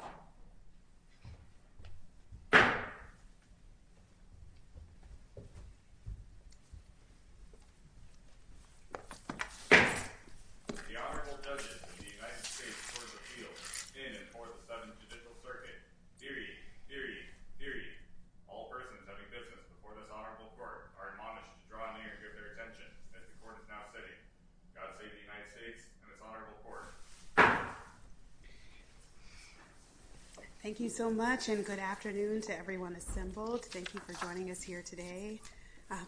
The Honorable Judges of the United States Courts of Appeal in and for the 7th Judicial Circuit. Deary, deary, deary, all persons having business before this Honorable Court are admonished to draw near and give their attention as the Court is now sitting. God save the United States and its Honorable Court. Thank you so much and good afternoon to everyone assembled. Thank you for joining us here today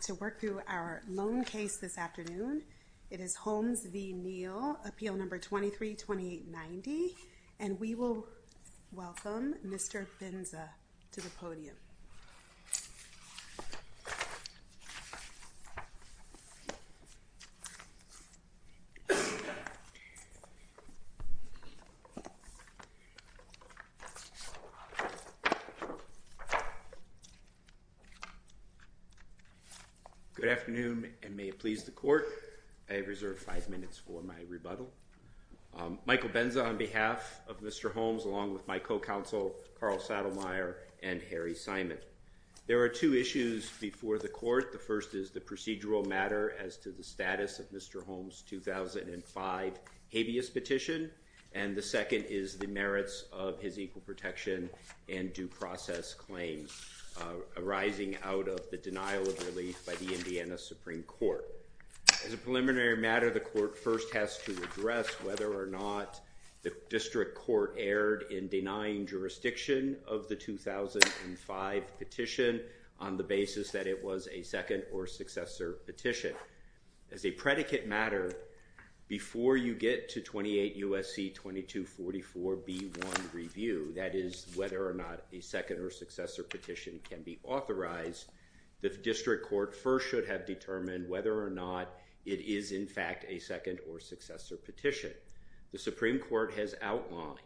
to work through our loan case this afternoon. It is Holmes v. Neal, Appeal Number 23-2890, and we will welcome Mr. Binza to the podium. Good afternoon and may it please the Court, I reserve five minutes for my rebuttal. Michael Binza on behalf of Mr. Holmes along with my co-counsel, Carl Saddlemeyer, and Harry Simon. There are two issues before the Court. The first is the procedural matter as to the status of Mr. Holmes' 2005 habeas petition and the second is the merits of his equal protection and due process claims arising out of the denial of relief by the Indiana Supreme Court. As a preliminary matter, the Court first has to address whether or not the District Court erred in denying jurisdiction of the 2005 petition on the basis that it was a second or successor petition. As a predicate matter, before you get to 28 U.S.C. 2244 B.1. Review, that is whether or not a second or successor petition can be authorized, the is in fact a second or successor petition. The Supreme Court has outlined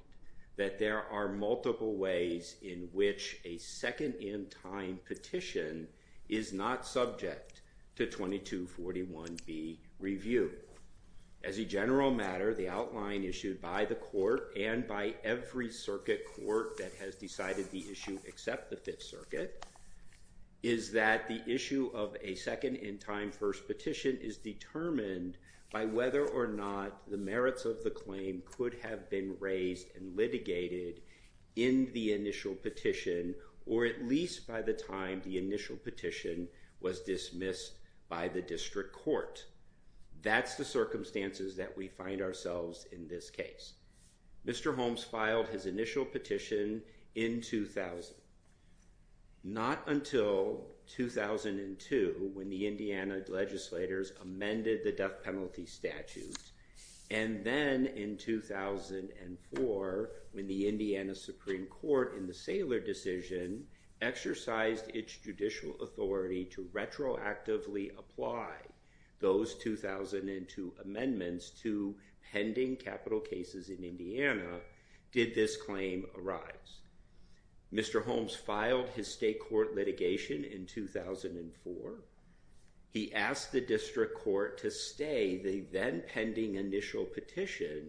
that there are multiple ways in which a second in time petition is not subject to 2241 B. Review. As a general matter, the outline issued by the Court and by every circuit court that has decided the issue except the Fifth Circuit is that the issue of a second in time first petition is determined by whether or not the merits of the claim could have been raised and litigated in the initial petition or at least by the time the initial petition was dismissed by the District Court. That's the circumstances that we find ourselves in this case. Mr. Holmes filed his initial petition in 2000. Not until 2002 when the Indiana legislators amended the death penalty statute and then in 2004 when the Indiana Supreme Court in the Saylor decision exercised its judicial authority to retroactively apply those 2002 amendments to pending capital cases in Indiana did this claim arise. Mr. Holmes filed his state court litigation in 2004. He asked the District Court to stay the then pending initial petition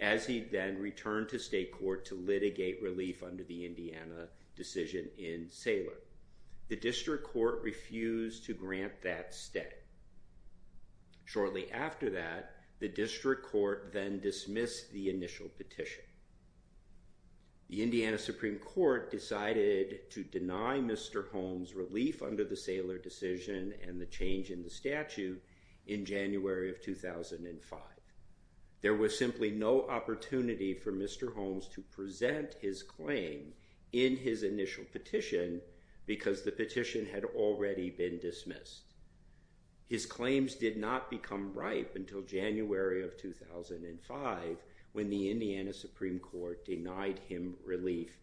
as he then returned to state court to litigate relief under the Indiana decision in Saylor. The District Court refused to grant that stay. Shortly after that, the District Court then dismissed the initial petition. The Indiana Supreme Court decided to deny Mr. Holmes relief under the Saylor decision and the change in the statute in January of 2005. There was simply no opportunity for Mr. Holmes to present his claim in his initial petition because the petition had already been dismissed. His claims did not become ripe until January of 2005 when the Indiana Supreme Court denied him relief,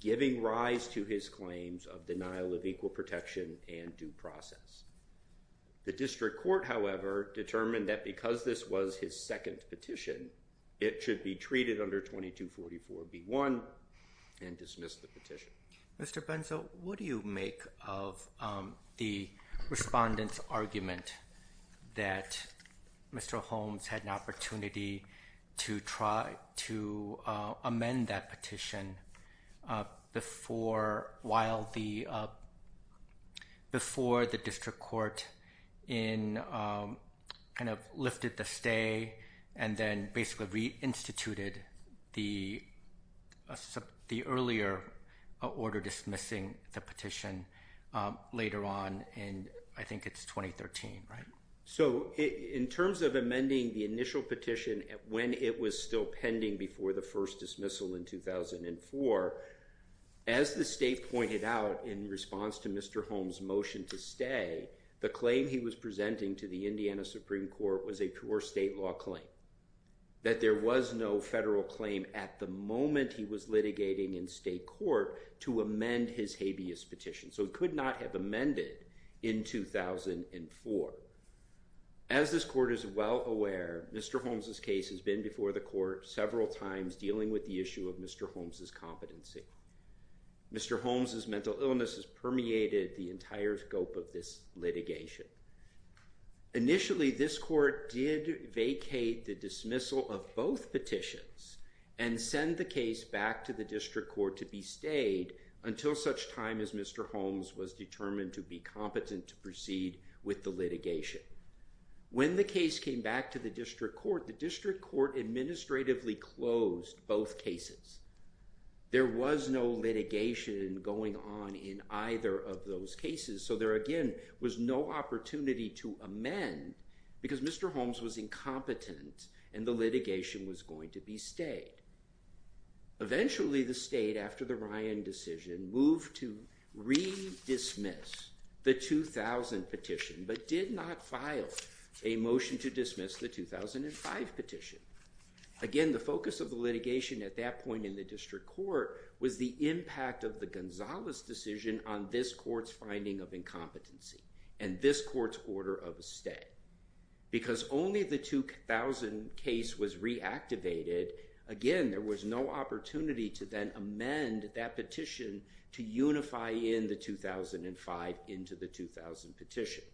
giving rise to his claims of denial of equal protection and due process. The District Court, however, determined that because this was his second petition, it should be treated under 2244B1 and dismissed the petition. Mr. Benzo, what do you make of the respondent's argument that Mr. Holmes had an opportunity to try to amend that petition before the District Court lifted the stay and then basically reinstituted the earlier order dismissing the petition later on in, I think it's 2013, right? So, in terms of amending the initial petition when it was still pending before the first dismissal in 2004, as the state pointed out in response to Mr. Holmes' motion to stay, the claim he was presenting to the Indiana Supreme Court was a pure state law claim, that there was no federal claim at the moment he was litigating in state court to amend his habeas petition. So, it could not have amended in 2004. As this court is well aware, Mr. Holmes' case has been before the court several times dealing with the issue of Mr. Holmes' competency. Mr. Holmes' mental illness has permeated the entire scope of this litigation. Initially, this court did vacate the dismissal of both petitions and send the case back to the District Court to be stayed until such time as Mr. Holmes was determined to be competent to proceed with the litigation. When the case came back to the District Court, the District Court administratively closed both cases. There was no litigation going on in either of those cases, so there again was no opportunity to amend because Mr. Holmes was incompetent and the litigation was going to be stayed. Eventually, the state, after the Ryan decision, moved to re-dismiss the 2000 petition, but did not file a motion to dismiss the 2005 petition. Again, the focus of the litigation at that point in the District Court was the impact of the Gonzalez decision on this court's finding of incompetency and this court's order of stay. Because only the 2000 case was reactivated, again, there was no opportunity to then amend that petition to unify in the 2005 into the 2000 petition.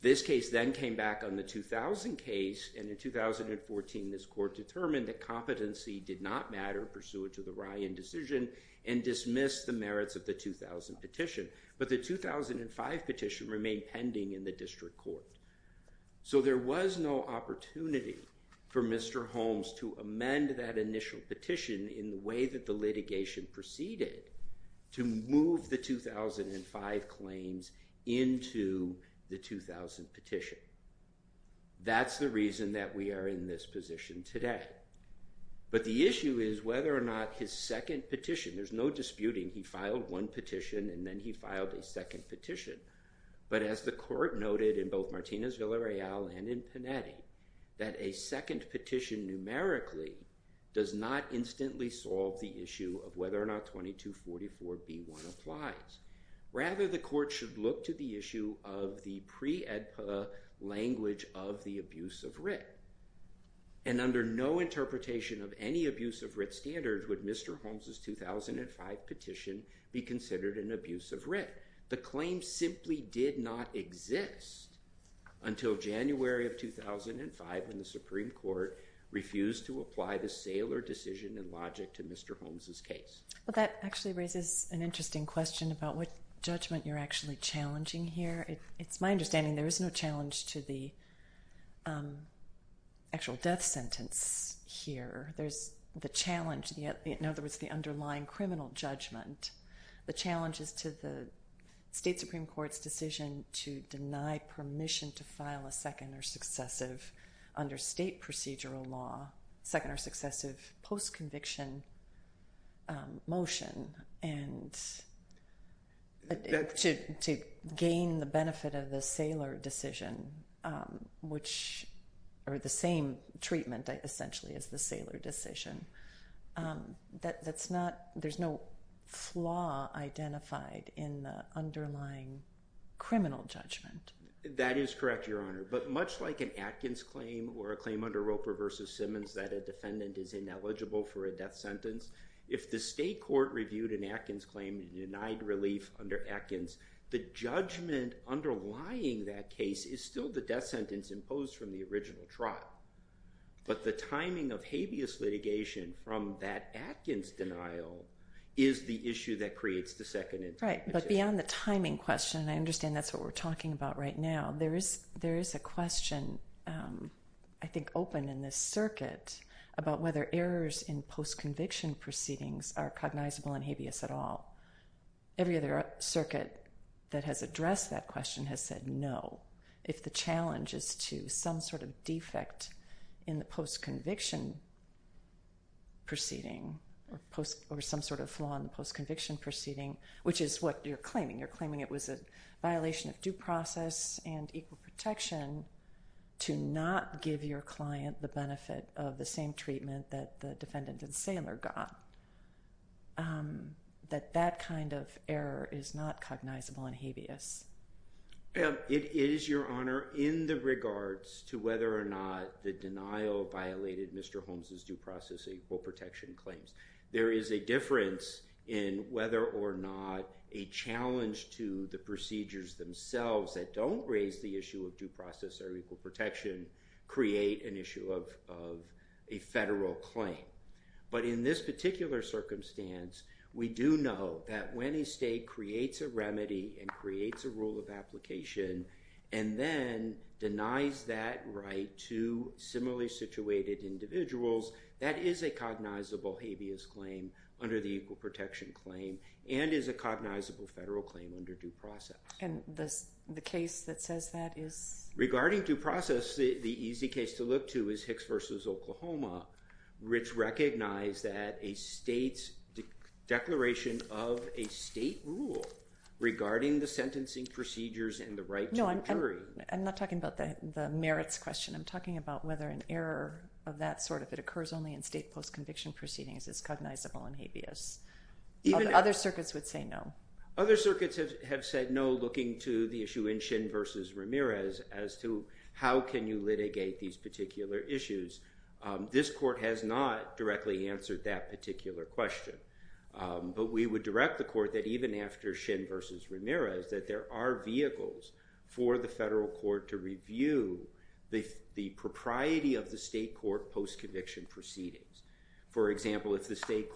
This case then came back on the 2000 case and in 2014 this court determined that competency did not matter pursuant to the Ryan decision and dismissed the merits of the 2000 petition, but the 2005 petition remained pending in the District Court. So, there was no opportunity for Mr. Holmes to amend that initial petition in the way that the litigation proceeded to move the 2005 claims into the 2000 petition. That's the reason that we are in this position today, but the issue is whether or not his second petition, there's no disputing he filed one petition and then he filed a second petition, but as the court noted in both Martinez-Villareal and in Panetti, that a second petition numerically does not instantly solve the issue of whether or not 2244B1 applies. Rather, the court should look to the issue of the pre-EDPA language of the abuse of writ and under no interpretation of any abuse of writ standards would Mr. Holmes' 2005 petition be considered an abuse of writ. The claim simply did not exist until January of 2005 when the Supreme Court refused to apply the Saylor decision and logic to Mr. Holmes' case. That actually raises an interesting question about what judgment you're actually challenging here. It's my understanding there is no challenge to the actual death sentence here. There's the challenge, in other words, the underlying criminal judgment. The challenge is to the state Supreme Court's decision to deny permission to file a second or successive under state procedural law, second or successive post-conviction motion and to gain the benefit of the Saylor decision, which are the same treatment essentially as the Saylor decision. There's no flaw identified in the underlying criminal judgment. That is correct, Your Honor, but much like an Atkins claim or a claim under Roper v. Simmons that a defendant is ineligible for a death sentence, if the state court reviewed an Atkins claim and denied relief under Atkins, the judgment underlying that case is still the death sentence imposed from the original trot. But the timing of habeas litigation from that Atkins denial is the issue that creates the second and third position. Right, but beyond the timing question, I understand that's what we're talking about right now, there is a question I think open in this circuit about whether errors in post-conviction proceedings are cognizable and habeas at all. Every other circuit that has addressed that question has said no if the challenge is to some sort of defect in the post-conviction proceeding or some sort of flaw in the post-conviction proceeding, which is what you're claiming. You're claiming it was a violation of due process and equal protection to not give your client the benefit of the same treatment that the defendant and sailor got, that that kind of error is not cognizable and habeas. It is, Your Honor, in the regards to whether or not the denial violated Mr. Holmes' due process or equal protection claims. There is a difference in whether or not a challenge to the procedures themselves that don't raise the issue of due process or equal protection create an issue of a federal claim. But in this particular circumstance, we do know that when a state creates a remedy and creates a rule of application and then denies that right to similarly situated individuals, that is a cognizable habeas claim under the equal protection claim and is a cognizable federal claim under due process. And the case that says that is? Regarding due process, the easy case to look to is Hicks v. Oklahoma, which recognized that a state's declaration of a state rule regarding the sentencing procedures and the right to a jury. No, I'm not talking about the merits question. I'm talking about whether an error of that sort, if it occurs only in state post-conviction proceedings, is cognizable and habeas. Other circuits would say no. Other circuits have said no, looking to the issue in Shin v. Ramirez, as to how can you litigate these particular issues. This court has not directly answered that particular question. But we would direct the court that even after Shin v. Ramirez, that there are vehicles for the federal court to review the propriety of the state court post-conviction proceedings. For example, if the state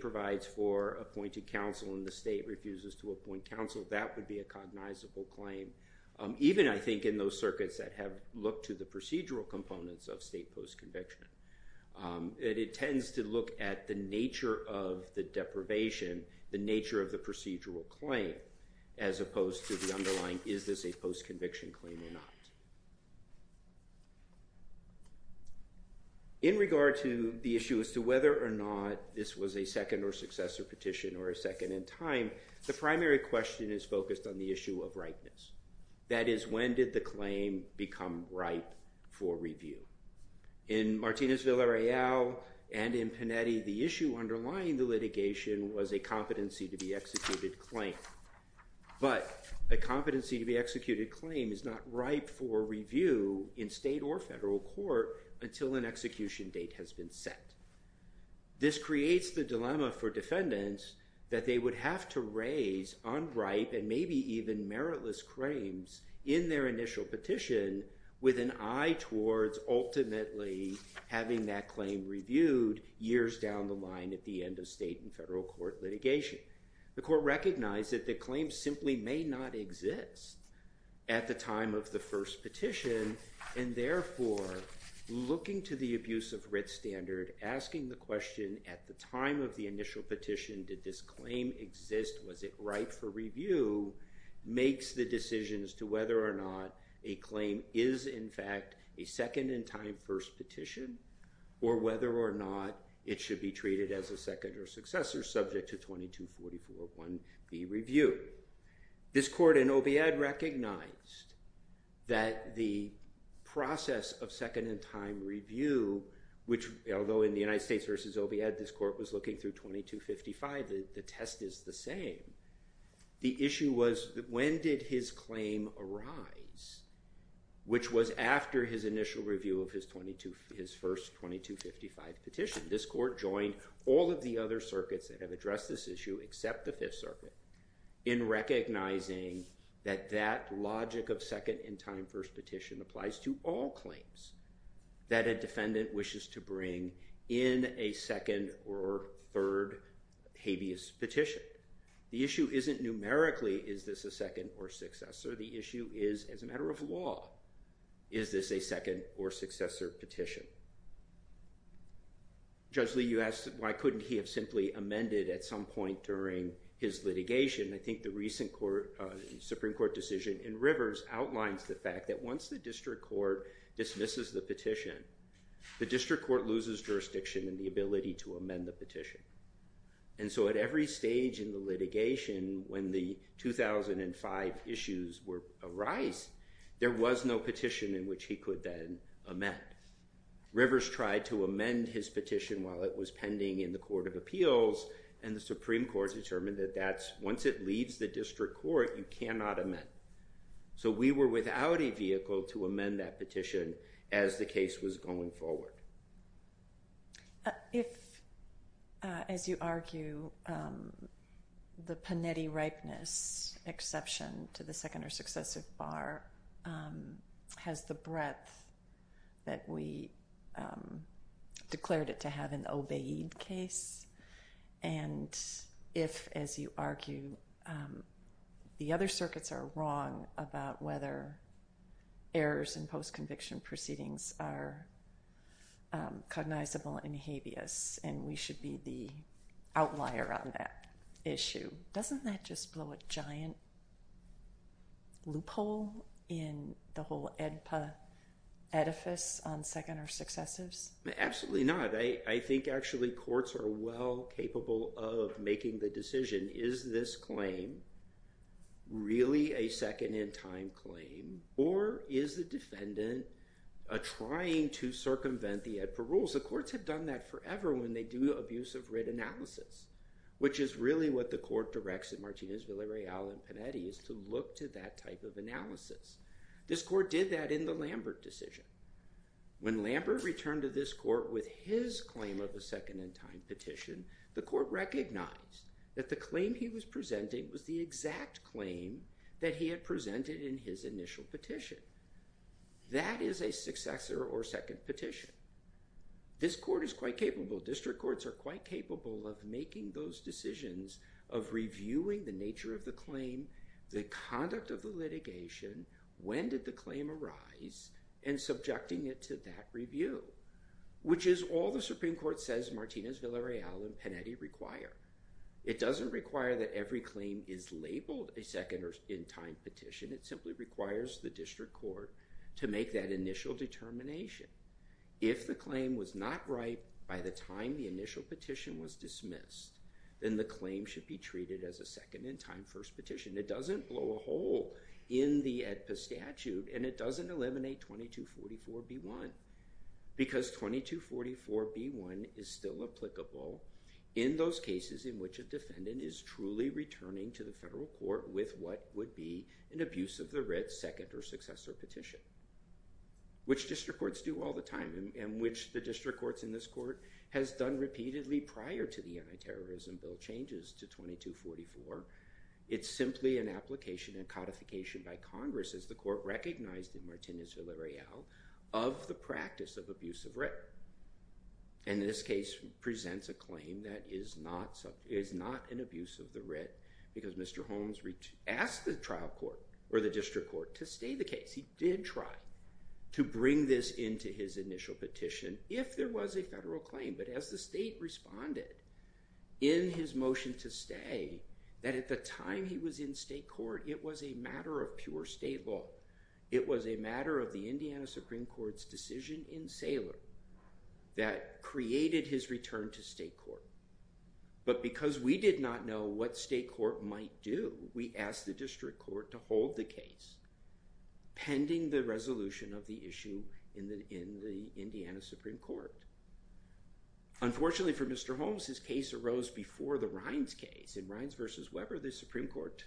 provides for appointed counsel and the state refuses to appoint counsel, that would be a cognizable claim. Even, I think, in those circuits that have looked to the procedural components of state post-conviction. It tends to look at the nature of the deprivation, the nature of the procedural claim, as opposed to the underlying is this a post-conviction claim or not. In regard to the issue as to whether or not this was a second or successor petition or a second in time, the primary question is focused on the issue of ripeness. That is, when did the claim become ripe for review? In Martinez v. Arreal and in Panetti, the issue underlying the litigation was a competency-to-be-executed claim. But a competency-to-be-executed claim is not ripe for review in state or federal court until an execution date has been set. This creates the dilemma for defendants that they would have to raise unripe and maybe even meritless claims in their initial petition with an eye towards ultimately having that claim reviewed years down the line at the end of state and federal court litigation. The court recognized that the claim simply may not exist at the time of the first petition, and therefore looking to the abuse of writ standard, asking the question at the time of the initial petition, did this claim exist, was it ripe for review, makes the decision as to whether or not a claim is, in fact, a second-in-time first petition or whether or not it should be treated as a second or successor subject to 22441B review. This court in OBIAD recognized that the process of second-in-time review, which although in the United States versus OBIAD, this court was looking through 2255, the test is the same. The issue was when did his claim arise, which was after his initial review of his first 2255 petition. This court joined all of the other circuits that have addressed this issue except the Fifth Circuit in recognizing that that logic of second-in-time first petition applies to all claims that a defendant wishes to bring in a second or third habeas petition. The issue isn't numerically, is this a second or successor? The issue is as a matter of law, is this a second or successor petition? Judge Lee, you asked why couldn't he have simply amended at some point during his litigation. I think the recent Supreme Court decision in Rivers outlines the fact that once the district court dismisses the petition, the district court loses jurisdiction and the ability to amend the petition. And so at every stage in the litigation, when the 2005 issues arise, there was no petition in which he could then amend. Rivers tried to amend his petition while it was pending in the Court of Appeals and the Supreme Court determined that once it leaves the district court, you cannot amend. So we were without a vehicle to amend that petition as the case was going forward. If, as you argue, the Panetti ripeness exception to the second or successive bar has the breadth that we declared it to have in the Obeid case, and if, as you argue, the other circuits are wrong about whether errors in post-conviction proceedings are cognizable in habeas and we should be the outlier on that issue, doesn't that just blow a giant loophole in the whole Oedipus on second or successives? Absolutely not. I think actually courts are well capable of making the decision, is this claim really a second-in-time claim or is the defendant trying to circumvent the Oedipus rules? The courts have done that forever when they do abusive writ analysis, which is really what the court directs in Martinez, Villareal, and Panetti, is to look to that type of analysis. This court did that in the Lambert decision. When Lambert returned to this court with his claim of a second-in-time petition, the court recognized that the claim he was presenting was the exact claim that he had presented in his initial petition. That is a successor or second petition. This court is quite capable, district courts are quite capable of making those decisions of reviewing the nature of the claim, the conduct of the litigation, when did the claim arise, and subjecting it to that review, which is all the Supreme Court says Martinez, Villareal, and Panetti require. It doesn't require that every claim is labeled a second-in-time petition, it simply requires the district court to make that initial determination. If the claim was not right by the time the initial petition was dismissed, then the claim should be treated as a second-in-time first petition. It doesn't blow a hole in the AEDPA statute, and it doesn't eliminate 2244B1, because 2244B1 is still applicable in those cases in which a defendant is truly returning to the federal court with what would be an abuse of the writ, second or successor petition, which district courts do all the time, and which the district courts in this court has done repeatedly prior to the anti-terrorism bill changes to 2244. It's simply an application and codification by Congress, as the court recognized in Martinez-Villareal, of the practice of abuse of writ. And this case presents a claim that is not an abuse of the writ, because Mr. Holmes asked the trial court, or the district court, to stay the case. He did try to bring this into his initial petition if there was a federal claim, but as the state responded in his motion to stay, that at the time he was in state court, it was a matter of pure state law. It was a matter of the Indiana Supreme Court's decision in Saylor that created his return to state court. But because we did not know what state court might do, we asked the district court to hold the case pending the resolution of the issue in the Indiana Supreme Court. Unfortunately for Mr. Holmes, his case arose before the Rines case. In Rines v. Weber, the Supreme Court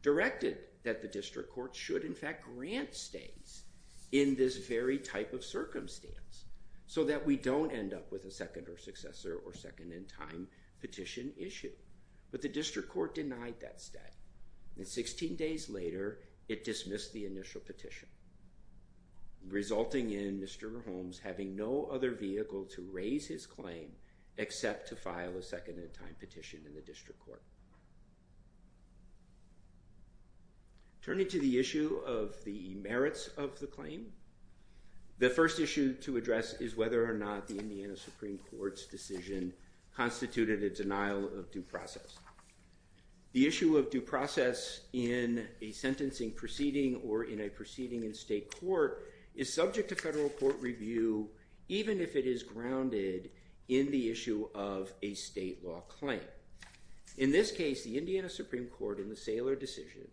directed that the district court should in fact grant stays in this very type of circumstance so that we don't end up with a second or successor or second-in-time petition issue. But the district court denied that stay. And 16 days later, it dismissed the initial petition, resulting in Mr. Holmes having no other vehicle to raise his claim except to file a second-in-time petition in the district court. Turning to the issue of the merits of the claim, the first issue to address is whether or not the Indiana Supreme Court's decision constituted a denial of due process. The issue of due process in a sentencing proceeding or in a proceeding in state court is subject to federal court review even if it is grounded in the issue of a state law claim. In this case, the Indiana Supreme Court in the Saylor decision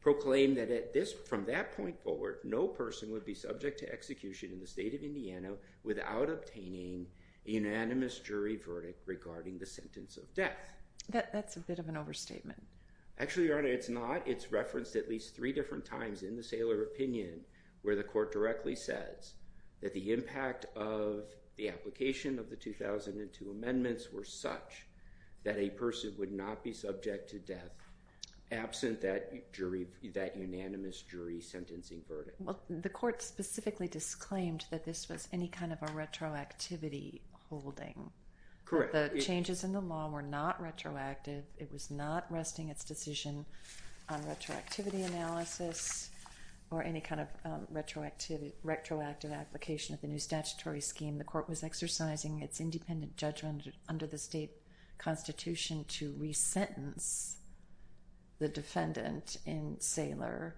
proclaimed that from that point forward, no person would be subject to execution in the state of Indiana without obtaining a unanimous jury verdict regarding the sentence of death. That's a bit of an overstatement. Actually, Your Honor, it's not. It's referenced at least three different times in the Saylor opinion where the court directly says that the impact of the application of the 2002 amendments were such that a person would not be subject to death absent that unanimous jury sentencing verdict. Well, the court specifically disclaimed that this was any kind of a retroactivity holding. Correct. The changes in the law were not retroactive. It was not resting its decision on retroactivity analysis or any kind of retroactive application of the new statutory scheme. The court was exercising its independent judgment under the state constitution to resentence the defendant in Saylor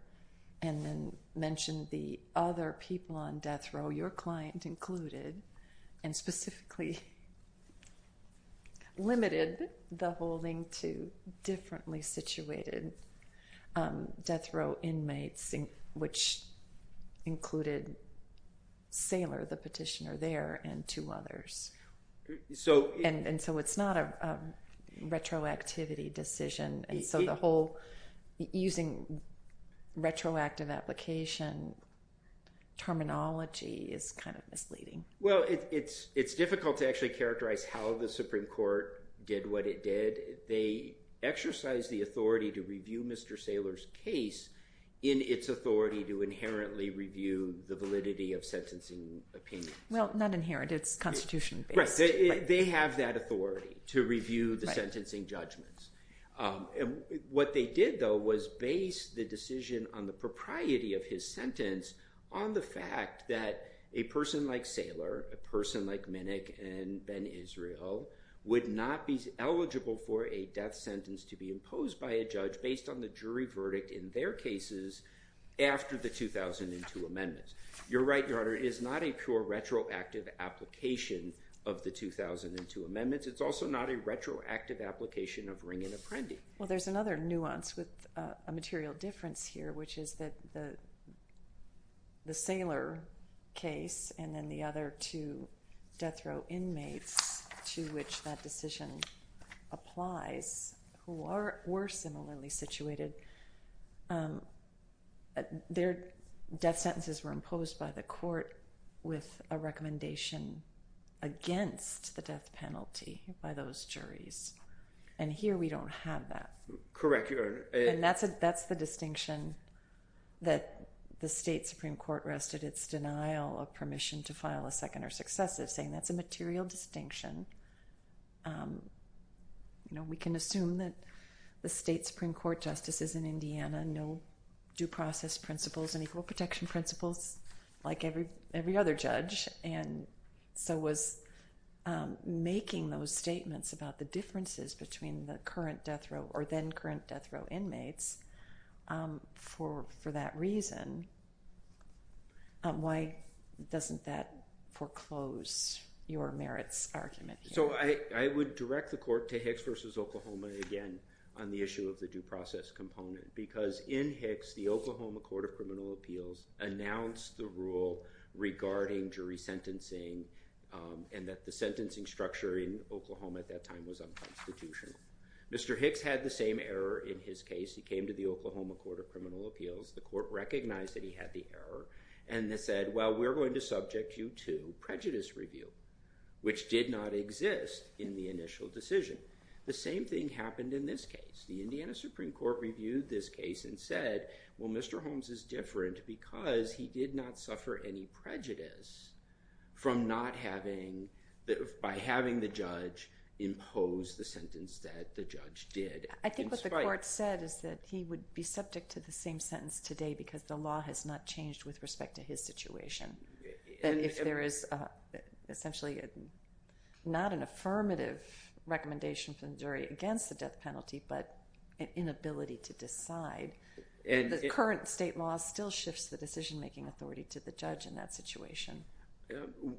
and then mention the other people on death row, your client included, and specifically limited the holding to differently situated death row inmates which included Saylor, the petitioner there, and two others. And so it's not a retroactivity decision, and so the whole using retroactive application terminology is kind of misleading. Well, it's difficult to actually characterize how the Supreme Court did what it did. They exercised the authority to review Mr. Saylor's case in its authority to inherently review the validity of sentencing opinions. Well, not inherently. It's constitution-based. They have that authority to review the sentencing judgments. What they did, though, was base the decision on the propriety of his sentence on the fact that a person like Saylor, a person like Minnick and Ben Israel would not be eligible for a death sentence to be imposed by a judge based on the jury verdict in their cases after the 2002 amendments. You're right, Your Honor. It is not a pure retroactive application of the 2002 amendments. It's also not a retroactive application of Ring and Apprendi. Well, there's another nuance with a material difference here, which is that the Saylor case and then the other two death row inmates to which that decision applies who were similarly situated, their death sentences were imposed by the court with a recommendation against the death penalty by those juries. And here we don't have that. Correct, Your Honor. And that's the distinction that the state Supreme Court rests at its denial of permission to file a second or successive, saying that's a material distinction. You know, we can assume that the state Supreme Court justices in Indiana know due process principles and equal protection principles like every other judge and so was making those statements about the differences between the current death row or then current death row inmates for that reason. Why doesn't that foreclose your merits argument here? So I would direct the court to Hicks v. Oklahoma again on the issue of the due process component because in Hicks the Oklahoma Court of Criminal Appeals announced the rule regarding jury sentencing and that the sentencing structure in Oklahoma at that time was unconstitutional. Mr. Hicks had the same error in his case. He came to the Oklahoma Court of Criminal Appeals. The court recognized that he had the error and said, well, we're going to subject you to prejudice review, which did not exist in the initial decision. The same thing happened in this case. The Indiana Supreme Court reviewed this case and said, well, Mr. Holmes is different because he did not suffer any prejudice by having the judge impose the sentence that the judge did. I think what the court said is that he would be subject to the same sentence today because the law has not changed with respect to his situation. If there is essentially not an affirmative recommendation from the jury against the death penalty but an inability to decide, the current state law still shifts the decision-making authority to the judge in that situation.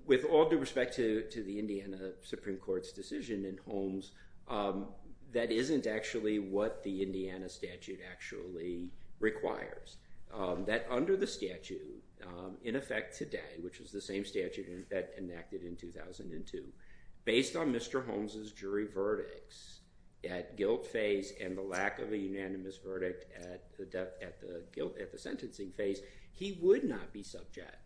With all due respect to the Indiana Supreme Court's decision in Holmes, that isn't actually what the Indiana statute actually requires. That under the statute, in effect today, which is the same statute that enacted in 2002, based on Mr. Holmes' jury verdicts at guilt phase and the lack of a unanimous verdict at the sentencing phase, he would not be subject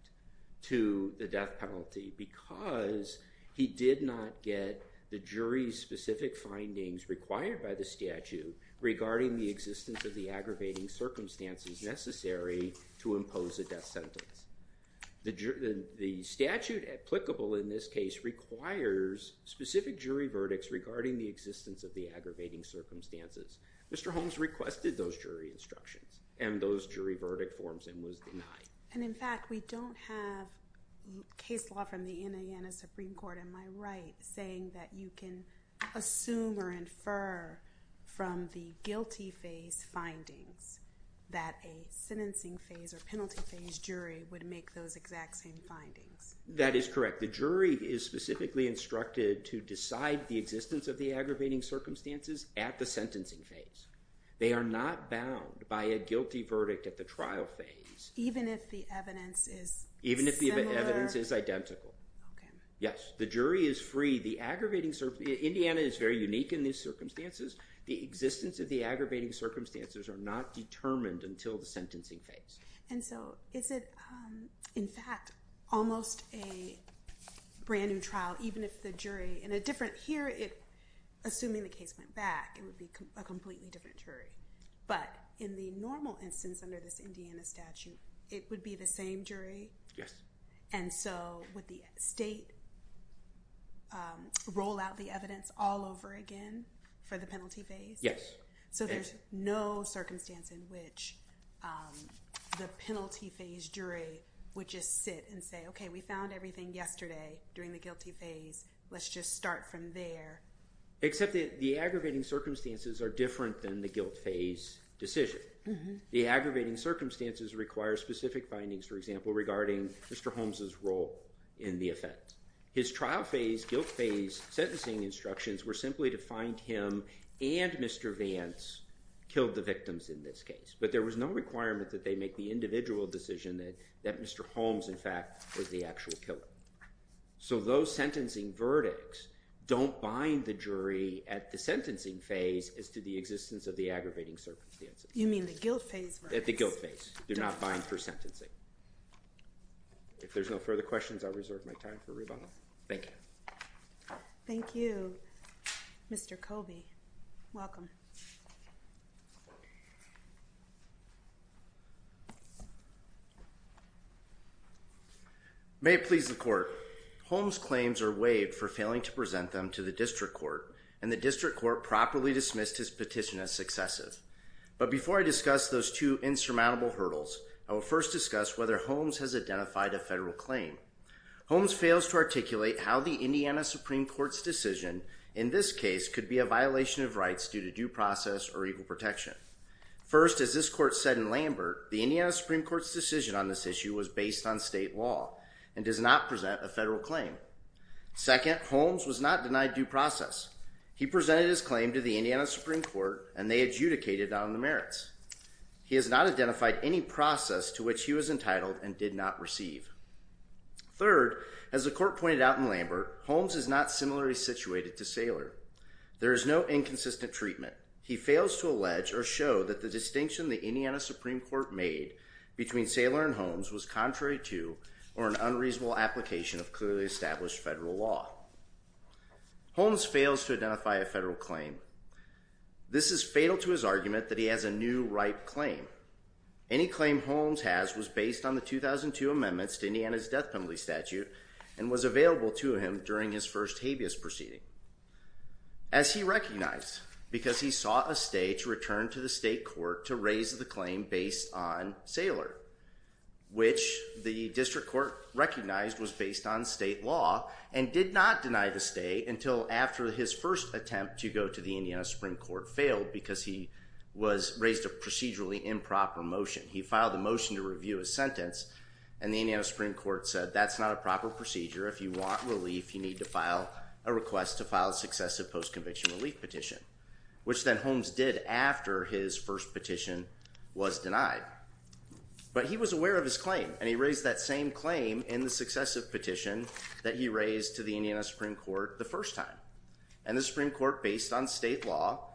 to the death penalty because he did not get the jury's specific findings required by the statute regarding the existence of the aggravating circumstances necessary to impose a death sentence. The statute applicable in this case requires specific jury verdicts regarding the existence of the aggravating circumstances. Mr. Holmes requested those jury instructions and those jury verdict forms and was denied. And in fact, we don't have case law from the Indiana Supreme Court, am I right, saying that you can assume or infer from the guilty phase findings that a sentencing phase or penalty phase jury would make those exact same findings? That is correct. The jury is specifically instructed to decide the existence of the aggravating circumstances at the sentencing phase. They are not bound by a guilty verdict at the trial phase. Even if the evidence is similar? Even if the evidence is identical. Okay. Yes, the jury is free. Indiana is very unique in these circumstances. The existence of the aggravating circumstances are not determined until the sentencing phase. And so is it, in fact, almost a brand-new trial, even if the jury in a different… Here, assuming the case went back, it would be a completely different jury. But in the normal instance under this Indiana statute, it would be the same jury? And so would the state roll out the evidence all over again for the penalty phase? Yes. So there's no circumstance in which the penalty phase jury would just sit and say, okay, we found everything yesterday during the guilty phase. Let's just start from there. Except that the aggravating circumstances are different than the guilt phase decision. The aggravating circumstances require specific findings, for example, regarding Mr. Holmes' role in the offense. His trial phase, guilt phase sentencing instructions were simply to find him and Mr. Vance killed the victims in this case. But there was no requirement that they make the individual decision that Mr. Holmes, in fact, was the actual killer. So those sentencing verdicts don't bind the jury at the sentencing phase as to the existence of the aggravating circumstances. You mean the guilt phase? The guilt phase. They're not bind for sentencing. If there's no further questions, I'll reserve my time for rebuttal. Thank you. Thank you, Mr. Colby. Welcome. Thank you. May it please the court. Holmes' claims are waived for failing to present them to the district court, and the district court properly dismissed his petition as successive. But before I discuss those two insurmountable hurdles, I will first discuss whether Holmes has identified a federal claim. Holmes fails to articulate how the Indiana Supreme Court's decision in this case could be a violation of rights due to due process or equal protection. First, as this court said in Lambert, the Indiana Supreme Court's decision on this issue was based on state law and does not present a federal claim. Second, Holmes was not denied due process. He presented his claim to the Indiana Supreme Court, and they adjudicated on the merits. He has not identified any process to which he was entitled and did not receive. Third, as the court pointed out in Lambert, Holmes is not similarly situated to Saylor. There is no inconsistent treatment. He fails to allege or show that the distinction the Indiana Supreme Court made between Saylor and Holmes was contrary to or an unreasonable application of clearly established federal law. Holmes fails to identify a federal claim. This is fatal to his argument that he has a new right claim. Any claim Holmes has was based on the 2002 amendments to Indiana's death penalty statute and was available to him during his first habeas proceeding. As he recognized, because he sought a stay to return to the state court to raise the claim based on Saylor, which the district court recognized was based on state law and did not deny the stay until after his first attempt to go to the Indiana Supreme Court failed because he raised a procedurally improper motion. He filed a motion to review his sentence, and the Indiana Supreme Court said that's not a proper procedure. If you want relief, you need to file a request to file a successive post-conviction relief petition, which then Holmes did after his first petition was denied. But he was aware of his claim, and he raised that same claim in the successive petition that he raised to the Indiana Supreme Court the first time. And the Supreme Court, based on state law,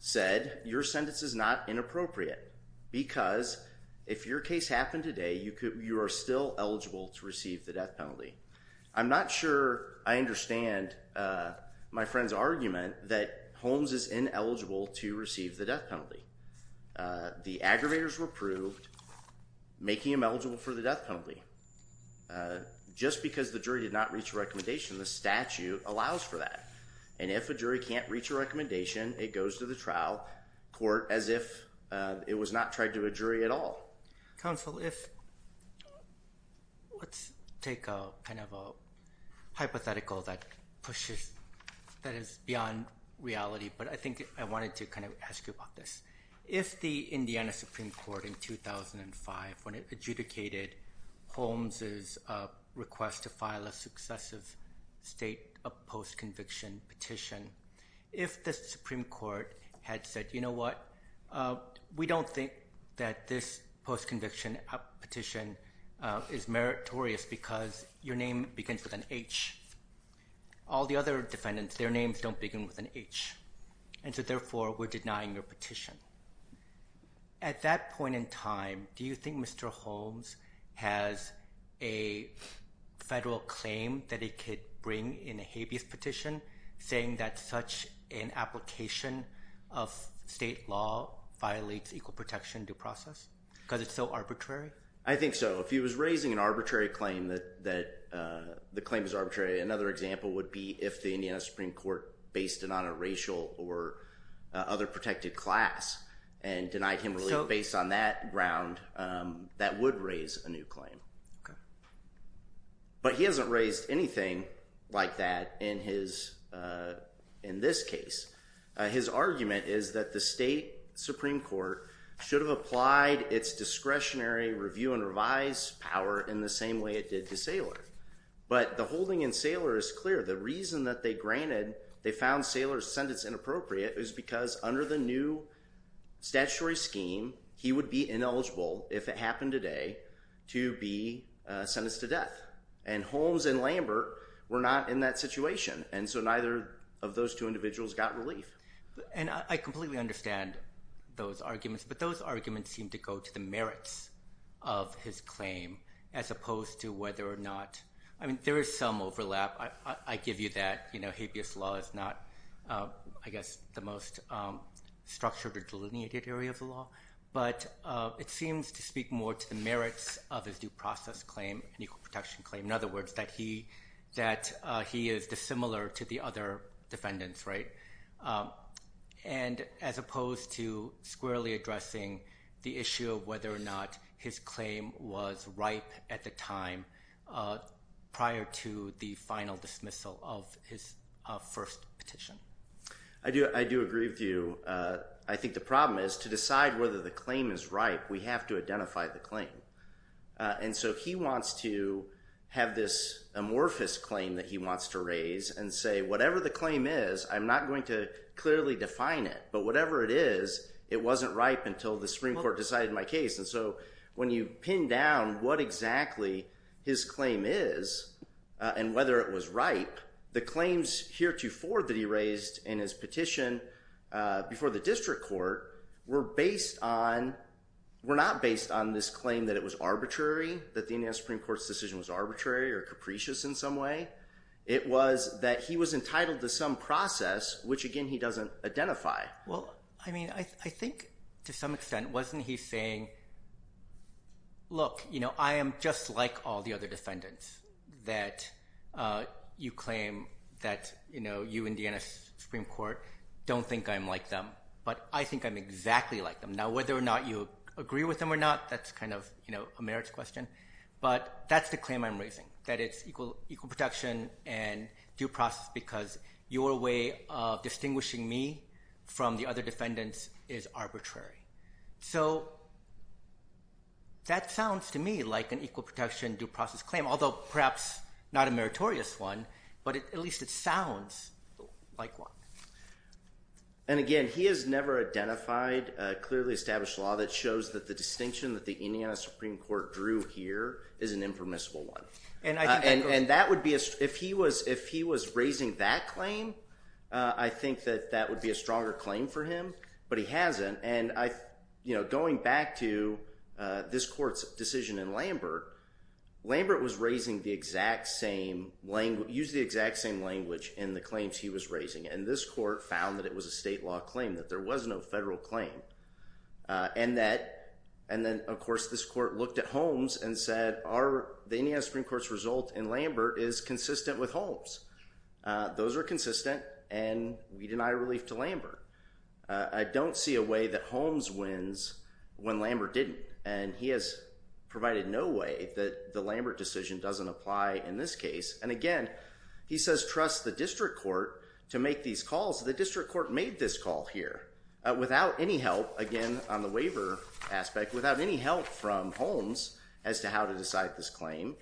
said your sentence is not inappropriate because if your case happened today, you are still eligible to receive the death penalty. I'm not sure I understand my friend's argument that Holmes is ineligible to receive the death penalty. The aggravators were approved, making him eligible for the death penalty. Just because the jury did not reach a recommendation, the statute allows for that. And if a jury can't reach a recommendation, it goes to the trial court as if it was not tried to a jury at all. Counsel, let's take kind of a hypothetical that is beyond reality, but I think I wanted to kind of ask you about this. If the Indiana Supreme Court in 2005, when it adjudicated Holmes' request to file a successive state post-conviction petition, if the Supreme Court had said, you know what, we don't think that this post-conviction petition is meritorious because your name begins with an H. All the other defendants, their names don't begin with an H. And so therefore, we're denying your petition. At that point in time, do you think Mr. Holmes has a federal claim that he could bring in a habeas petition saying that such an application of state law violates equal protection due process because it's so arbitrary? I think so. If he was raising an arbitrary claim that the claim is arbitrary, another example would be if the Indiana Supreme Court based it on a racial or other protected class and denied him relief based on that ground, that would raise a new claim. But he hasn't raised anything like that in this case. His argument is that the state Supreme Court should have applied its discretionary review and revise power in the same way it did to Saylor. But the holding in Saylor is clear. The reason that they granted, they found Saylor's sentence inappropriate is because under the new statutory scheme, he would be ineligible, if it happened today, to be sentenced to death. And Holmes and Lambert were not in that situation. And so neither of those two individuals got relief. And I completely understand those arguments. But those arguments seem to go to the merits of his claim as opposed to whether or not – I mean, there is some overlap. I give you that. You know, habeas law is not, I guess, the most structured or delineated area of the law. But it seems to speak more to the merits of his due process claim, an equal protection claim. In other words, that he is dissimilar to the other defendants, right? And as opposed to squarely addressing the issue of whether or not his claim was ripe at the time prior to the final dismissal of his first petition. I do agree with you. I think the problem is to decide whether the claim is ripe, we have to identify the claim. And so he wants to have this amorphous claim that he wants to raise and say whatever the claim is, I'm not going to clearly define it. But whatever it is, it wasn't ripe until the Supreme Court decided my case. And so when you pin down what exactly his claim is and whether it was ripe, the claims heretofore that he raised in his petition before the district court were based on – were not based on this claim that it was arbitrary, that the Supreme Court's decision was arbitrary or capricious in some way. It was that he was entitled to some process, which, again, he doesn't identify. Well, I mean, I think to some extent, wasn't he saying, look, I am just like all the other defendants that you claim that you, Indiana Supreme Court, don't think I'm like them. But I think I'm exactly like them. Now, whether or not you agree with them or not, that's kind of a merits question. But that's the claim I'm raising, that it's equal protection and due process because your way of distinguishing me from the other defendants is arbitrary. So that sounds to me like an equal protection, due process claim, although perhaps not a meritorious one, but at least it sounds like one. And again, he has never identified a clearly established law that shows that the distinction that the Indiana Supreme Court drew here is an impermissible one. And that would be – if he was raising that claim, I think that that would be a stronger claim for him. But he hasn't, and going back to this court's decision in Lambert, Lambert was raising the exact same – used the exact same language in the claims he was raising. And this court found that it was a state law claim, that there was no federal claim. And that – and then, of course, this court looked at Holmes and said, the Indiana Supreme Court's result in Lambert is consistent with Holmes. Those are consistent, and we deny relief to Lambert. I don't see a way that Holmes wins when Lambert didn't. And he has provided no way that the Lambert decision doesn't apply in this case. And again, he says trust the district court to make these calls. The district court made this call here without any help, again, on the waiver aspect, without any help from Holmes as to how to decide this claim.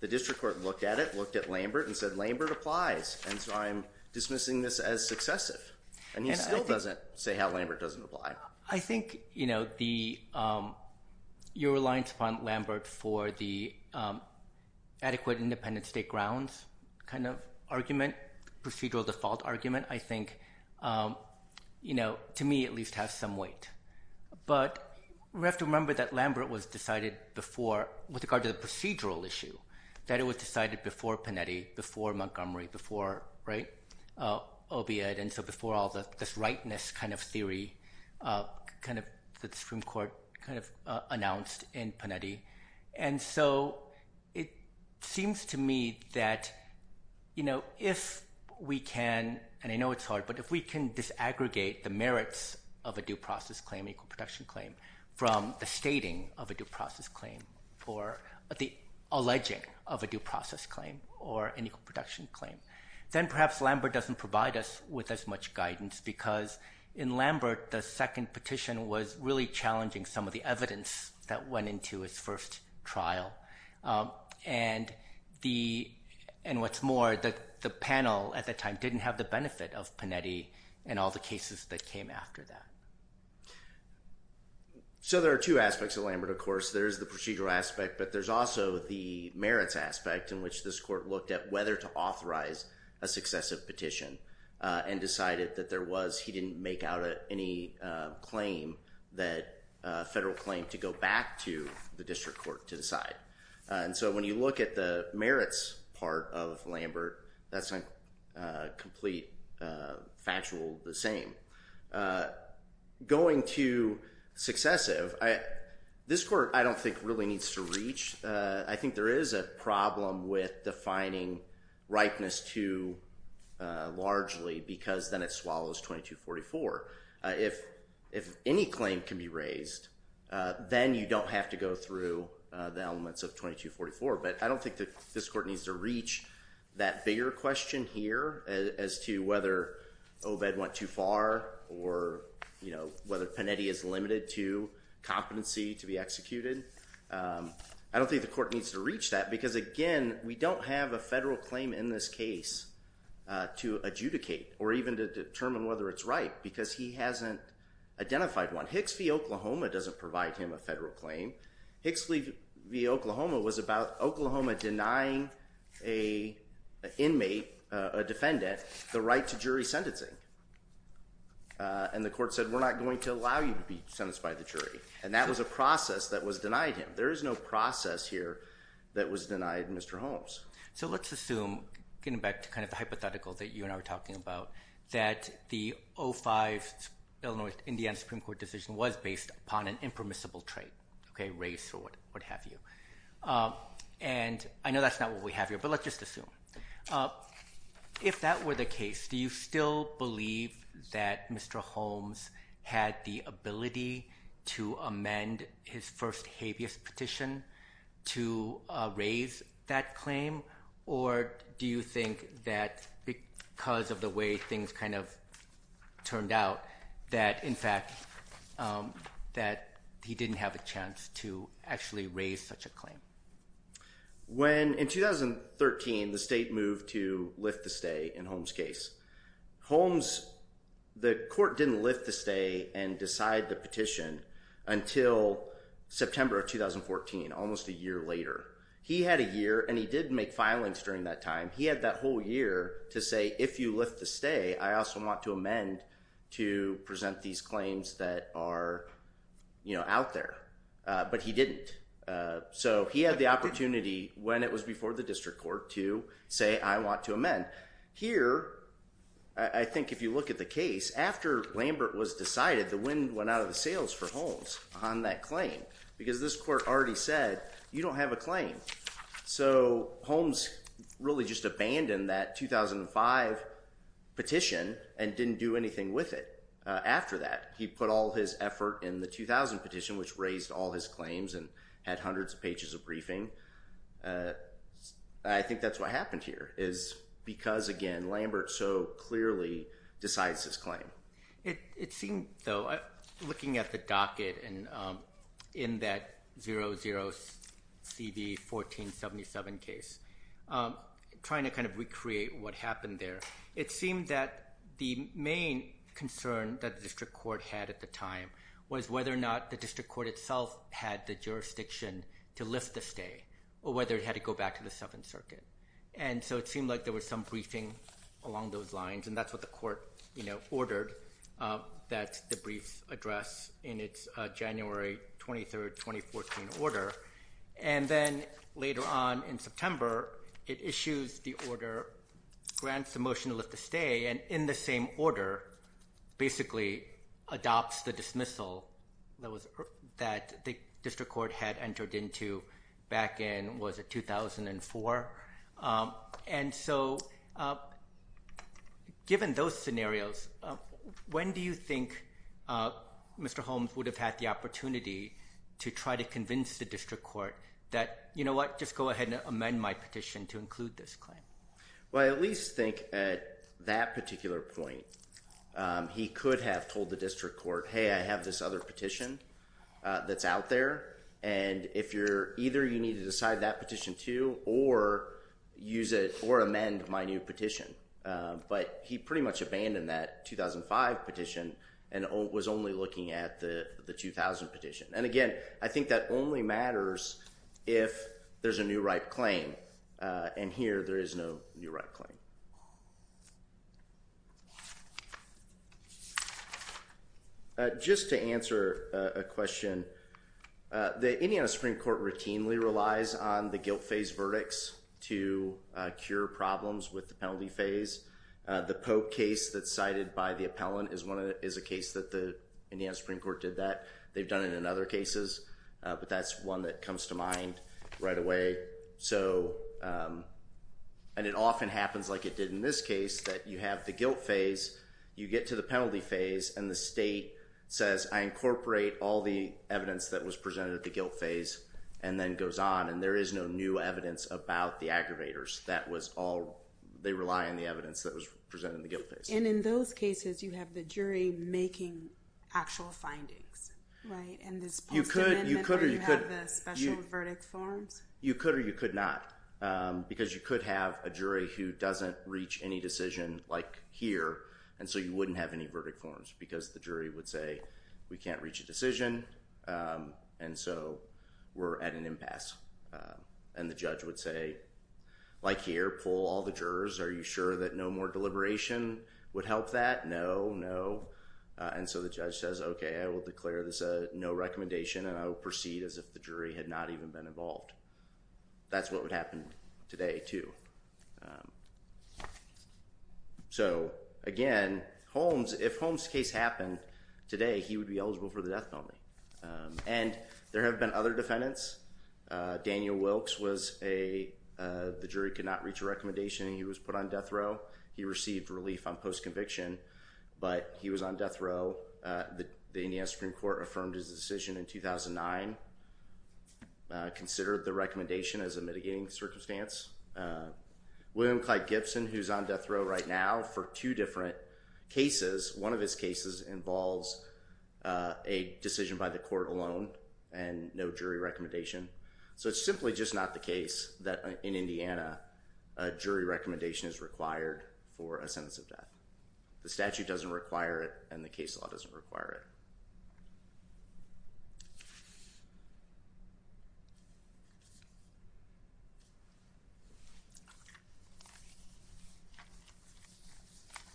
The district court looked at it, looked at Lambert, and said, Lambert applies. And so I'm dismissing this as successive. And he still doesn't say how Lambert doesn't apply. I think your reliance upon Lambert for the adequate independent state grounds kind of argument, procedural default argument, I think to me at least has some weight. But we have to remember that Lambert was decided before – with regard to the procedural issue, that it was decided before Panetti, before Montgomery, before OBIAD. And so before all this rightness kind of theory that the district court kind of announced in Panetti. And so it seems to me that if we can – and I know it's hard – but if we can disaggregate the merits of a due process claim, an equal protection claim, from the stating of a due process claim or the alleging of a due process claim or an equal protection claim, then perhaps Lambert doesn't provide us with as much guidance. Because in Lambert, the second petition was really challenging some of the evidence that went into his first trial. And the – and what's more, the panel at that time didn't have the benefit of Panetti and all the cases that came after that. So there are two aspects of Lambert, of course. There is the procedural aspect, but there's also the merits aspect in which this court looked at whether to authorize a successive petition and decided that there was – he didn't make out any claim that – federal claim to go back to the district court to decide. And so when you look at the merits part of Lambert, that's a complete factual the same. Going to successive, this court I don't think really needs to reach. I think there is a problem with defining ripeness two largely because then it swallows 2244. If any claim can be raised, then you don't have to go through the elements of 2244. But I don't think this court needs to reach that bigger question here as to whether Obed went too far or whether Panetti is limited to competency to be executed. I don't think the court needs to reach that because, again, we don't have a federal claim in this case to adjudicate or even to determine whether it's right because he hasn't identified one. Hicks v. Oklahoma doesn't provide him a federal claim. Hicks v. Oklahoma was about Oklahoma denying an inmate, a defendant, the right to jury sentencing. And the court said, we're not going to allow you to be sentenced by the jury. And that was a process that was denied him. There is no process here that was denied Mr. Holmes. So let's assume, getting back to kind of the hypothetical that you and I were talking about, that the 05 Illinois-Indiana Supreme Court decision was based upon an impermissible trait, race or what have you. And I know that's not what we have here, but let's just assume. If that were the case, do you still believe that Mr. Holmes had the ability to amend his first habeas petition to raise that claim? Or do you think that because of the way things kind of turned out that, in fact, that he didn't have a chance to actually raise such a claim? In 2013, the state moved to lift the stay in Holmes' case. The court didn't lift the stay and decide the petition until September of 2014, almost a year later. He had a year, and he did make filings during that time. He had that whole year to say, if you lift the stay, I also want to amend to present these claims that are out there. But he didn't. So he had the opportunity when it was before the district court to say, I want to amend. Here, I think if you look at the case, after Lambert was decided, the wind went out of the sails for Holmes on that claim because this court already said, you don't have a claim. So Holmes really just abandoned that 2005 petition and didn't do anything with it after that. He put all his effort in the 2000 petition, which raised all his claims and had hundreds of pages of briefing. I think that's what happened here is because, again, Lambert so clearly decides his claim. It seemed, though, looking at the docket in that 00CV1477 case, trying to kind of recreate what happened there, it seemed that the main concern that the district court had at the time was whether or not the district court itself had the jurisdiction to lift the stay or whether it had to go back to the Seventh Circuit. And so it seemed like there was some briefing along those lines, and that's what the court ordered, that the brief address in its January 23rd, 2014 order. And then later on in September, it issues the order, grants the motion to lift the stay, and in the same order basically adopts the dismissal that the district court had entered into back in, what was it, 2004? And so given those scenarios, when do you think Mr. Holmes would have had the opportunity to try to convince the district court that, you know what, just go ahead and amend my petition to include this claim? Well, I at least think at that particular point, he could have told the district court, hey, I have this other petition that's out there, and if you're either you need to decide that petition too or use it or amend my new petition. But he pretty much abandoned that 2005 petition and was only looking at the 2000 petition. And again, I think that only matters if there's a new right claim, and here there is no new right claim. Just to answer a question, the Indiana Supreme Court routinely relies on the guilt phase verdicts to cure problems with the penalty phase. The Pope case that's cited by the appellant is a case that the Indiana Supreme Court did that. They've done it in other cases, but that's one that comes to mind right away. And it often happens, like it did in this case, that you have the guilt phase, you get to the penalty phase, and the state says, I incorporate all the evidence that was presented at the guilt phase, and then goes on, and there is no new evidence about the aggravators. They rely on the evidence that was presented in the guilt phase. And in those cases, you have the jury making actual findings, right? You could or you could not, because you could have a jury who doesn't reach any decision, like here, and so you wouldn't have any verdict forms because the jury would say, we can't reach a decision, and so we're at an impasse. And the judge would say, like here, pull all the jurors. Are you sure that no more deliberation would help that? No, no, and so the judge says, okay, I will declare this a no recommendation, and I will proceed as if the jury had not even been involved. That's what would happen today, too. So, again, Holmes, if Holmes' case happened today, he would be eligible for the death penalty. And there have been other defendants. Daniel Wilkes was a—the jury could not reach a recommendation, and he was put on death row. He received relief on post-conviction, but he was on death row. The Indiana Supreme Court affirmed his decision in 2009, considered the recommendation as a mitigating circumstance. William Clyde Gibson, who's on death row right now for two different cases. One of his cases involves a decision by the court alone and no jury recommendation. So it's simply just not the case that in Indiana a jury recommendation is required for a sentence of death. The statute doesn't require it, and the case law doesn't require it.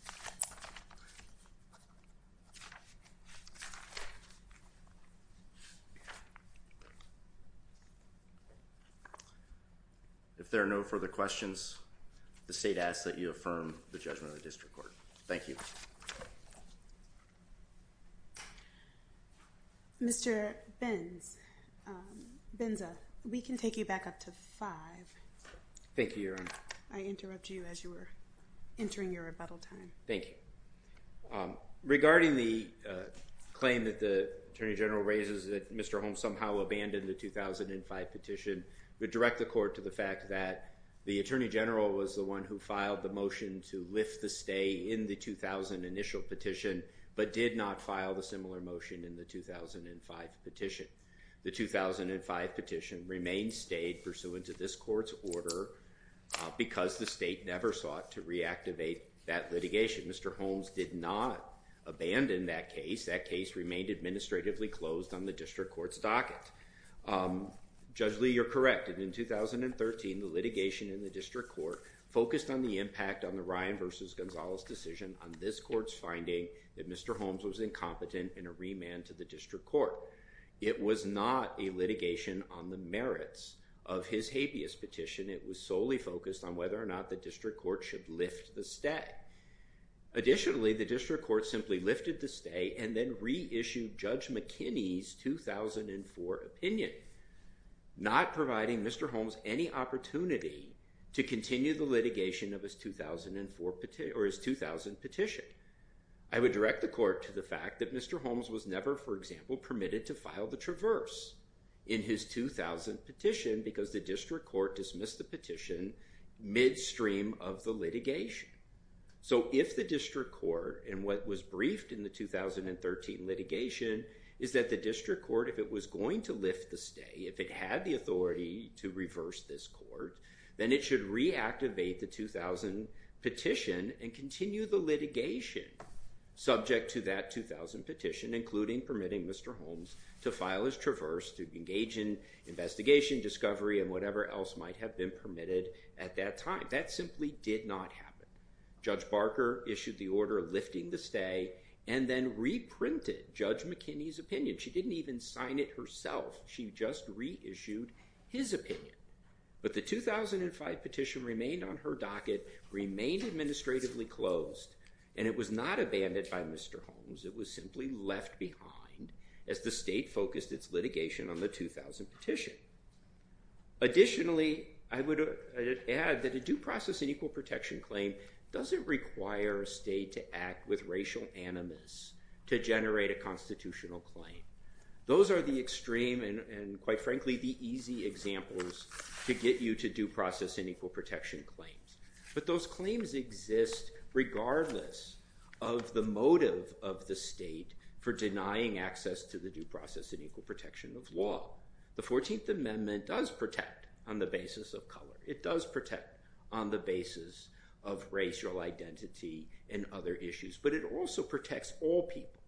Thank you. If there are no further questions, the state asks that you affirm the judgment of the district court. Thank you. Mr. Benza, we can take you back up to five. Thank you, Your Honor. I interrupt you as you were entering your rebuttal time. Thank you. Regarding the claim that the Attorney General raises that Mr. Holmes somehow abandoned the 2005 petition, we direct the court to the fact that the Attorney General was the one who filed the motion to lift the stay in the 2000 initial petition, but did not file the similar motion in the 2005 petition. The 2005 petition remains stayed pursuant to this court's order because the state never sought to reactivate that litigation. Mr. Holmes did not abandon that case. That case remained administratively closed on the district court's docket. Judge Lee, you're correct. In 2013, the litigation in the district court focused on the impact on the Ryan v. Gonzalez decision on this court's finding that Mr. Holmes was incompetent in a remand to the district court. It was not a litigation on the merits of his habeas petition. It was solely focused on whether or not the district court should lift the stay. Additionally, the district court simply lifted the stay and then reissued Judge McKinney's 2004 opinion, not providing Mr. Holmes any opportunity to continue the litigation of his 2000 petition. I would direct the court to the fact that Mr. Holmes was never, for example, permitted to file the traverse in his 2000 petition because the district court dismissed the petition midstream of the litigation. So if the district court, and what was briefed in the 2013 litigation, is that the district court, if it was going to lift the stay, if it had the authority to reverse this court, then it should reactivate the 2000 petition and continue the litigation subject to that 2000 petition, including permitting Mr. Holmes to file his traverse to engage in investigation, discovery, and whatever else might have been permitted at that time. That simply did not happen. Judge Barker issued the order lifting the stay and then reprinted Judge McKinney's opinion. She didn't even sign it herself. She just reissued his opinion. But the 2005 petition remained on her docket, remained administratively closed, and it was not abandoned by Mr. Holmes. It was simply left behind as the state focused its litigation on the 2000 petition. Additionally, I would add that a due process and equal protection claim doesn't require a state to act with racial animus to generate a constitutional claim. Those are the extreme and, quite frankly, the easy examples to get you to due process and equal protection claims. But those claims exist regardless of the motive of the state for denying access to the due process and equal protection of law. The 14th Amendment does protect on the basis of color. It does protect on the basis of racial identity and other issues. But it also protects all people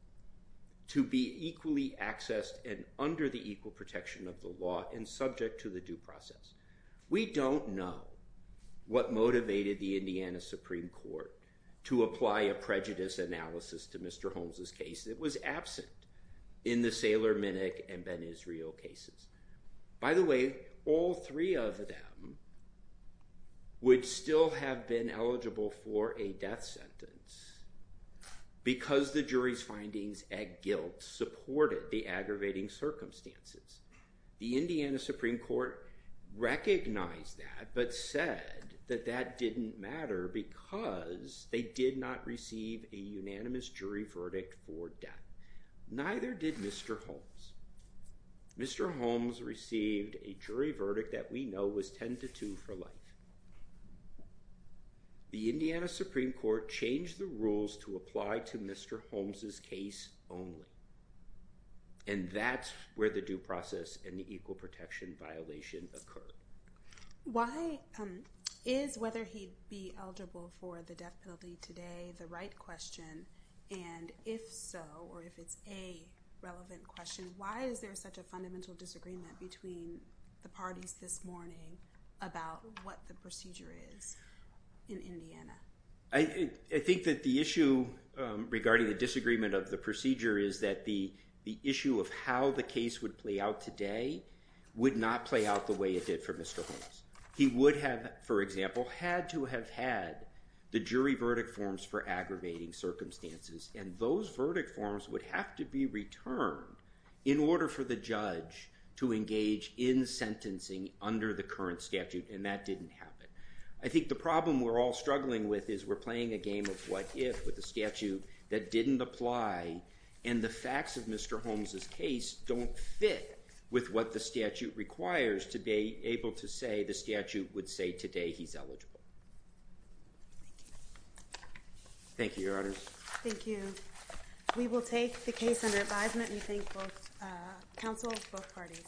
to be equally accessed and under the equal protection of the law and subject to the due process. We don't know what motivated the Indiana Supreme Court to apply a prejudice analysis to Mr. Holmes' case. It was absent in the Sailor Minnick and Ben Israel cases. By the way, all three of them would still have been eligible for a death sentence because the jury's findings at guilt supported the aggravating circumstances. The Indiana Supreme Court recognized that but said that that didn't matter because they did not receive a unanimous jury verdict for death. Neither did Mr. Holmes. Mr. Holmes received a jury verdict that we know was 10 to 2 for life. The Indiana Supreme Court changed the rules to apply to Mr. Holmes' case only. And that's where the due process and the equal protection violation occurred. Why is whether he'd be eligible for the death penalty today the right question? And if so, or if it's a relevant question, why is there such a fundamental disagreement between the parties this morning about what the procedure is in Indiana? I think that the issue regarding the disagreement of the procedure is that the issue of how the case would play out today would not play out the way it did for Mr. Holmes. He would have, for example, had to have had the jury verdict forms for aggravating circumstances, and those verdict forms would have to be returned in order for the judge to engage in sentencing under the current statute, and that didn't happen. I think the problem we're all struggling with is we're playing a game of what if with a statute that didn't apply, and the facts of Mr. Holmes' case don't fit with what the statute requires to be able to say the statute would say today he's eligible. Thank you. Thank you, Your Honor. Thank you. We will take the case under advisement and thank both counsel, both parties.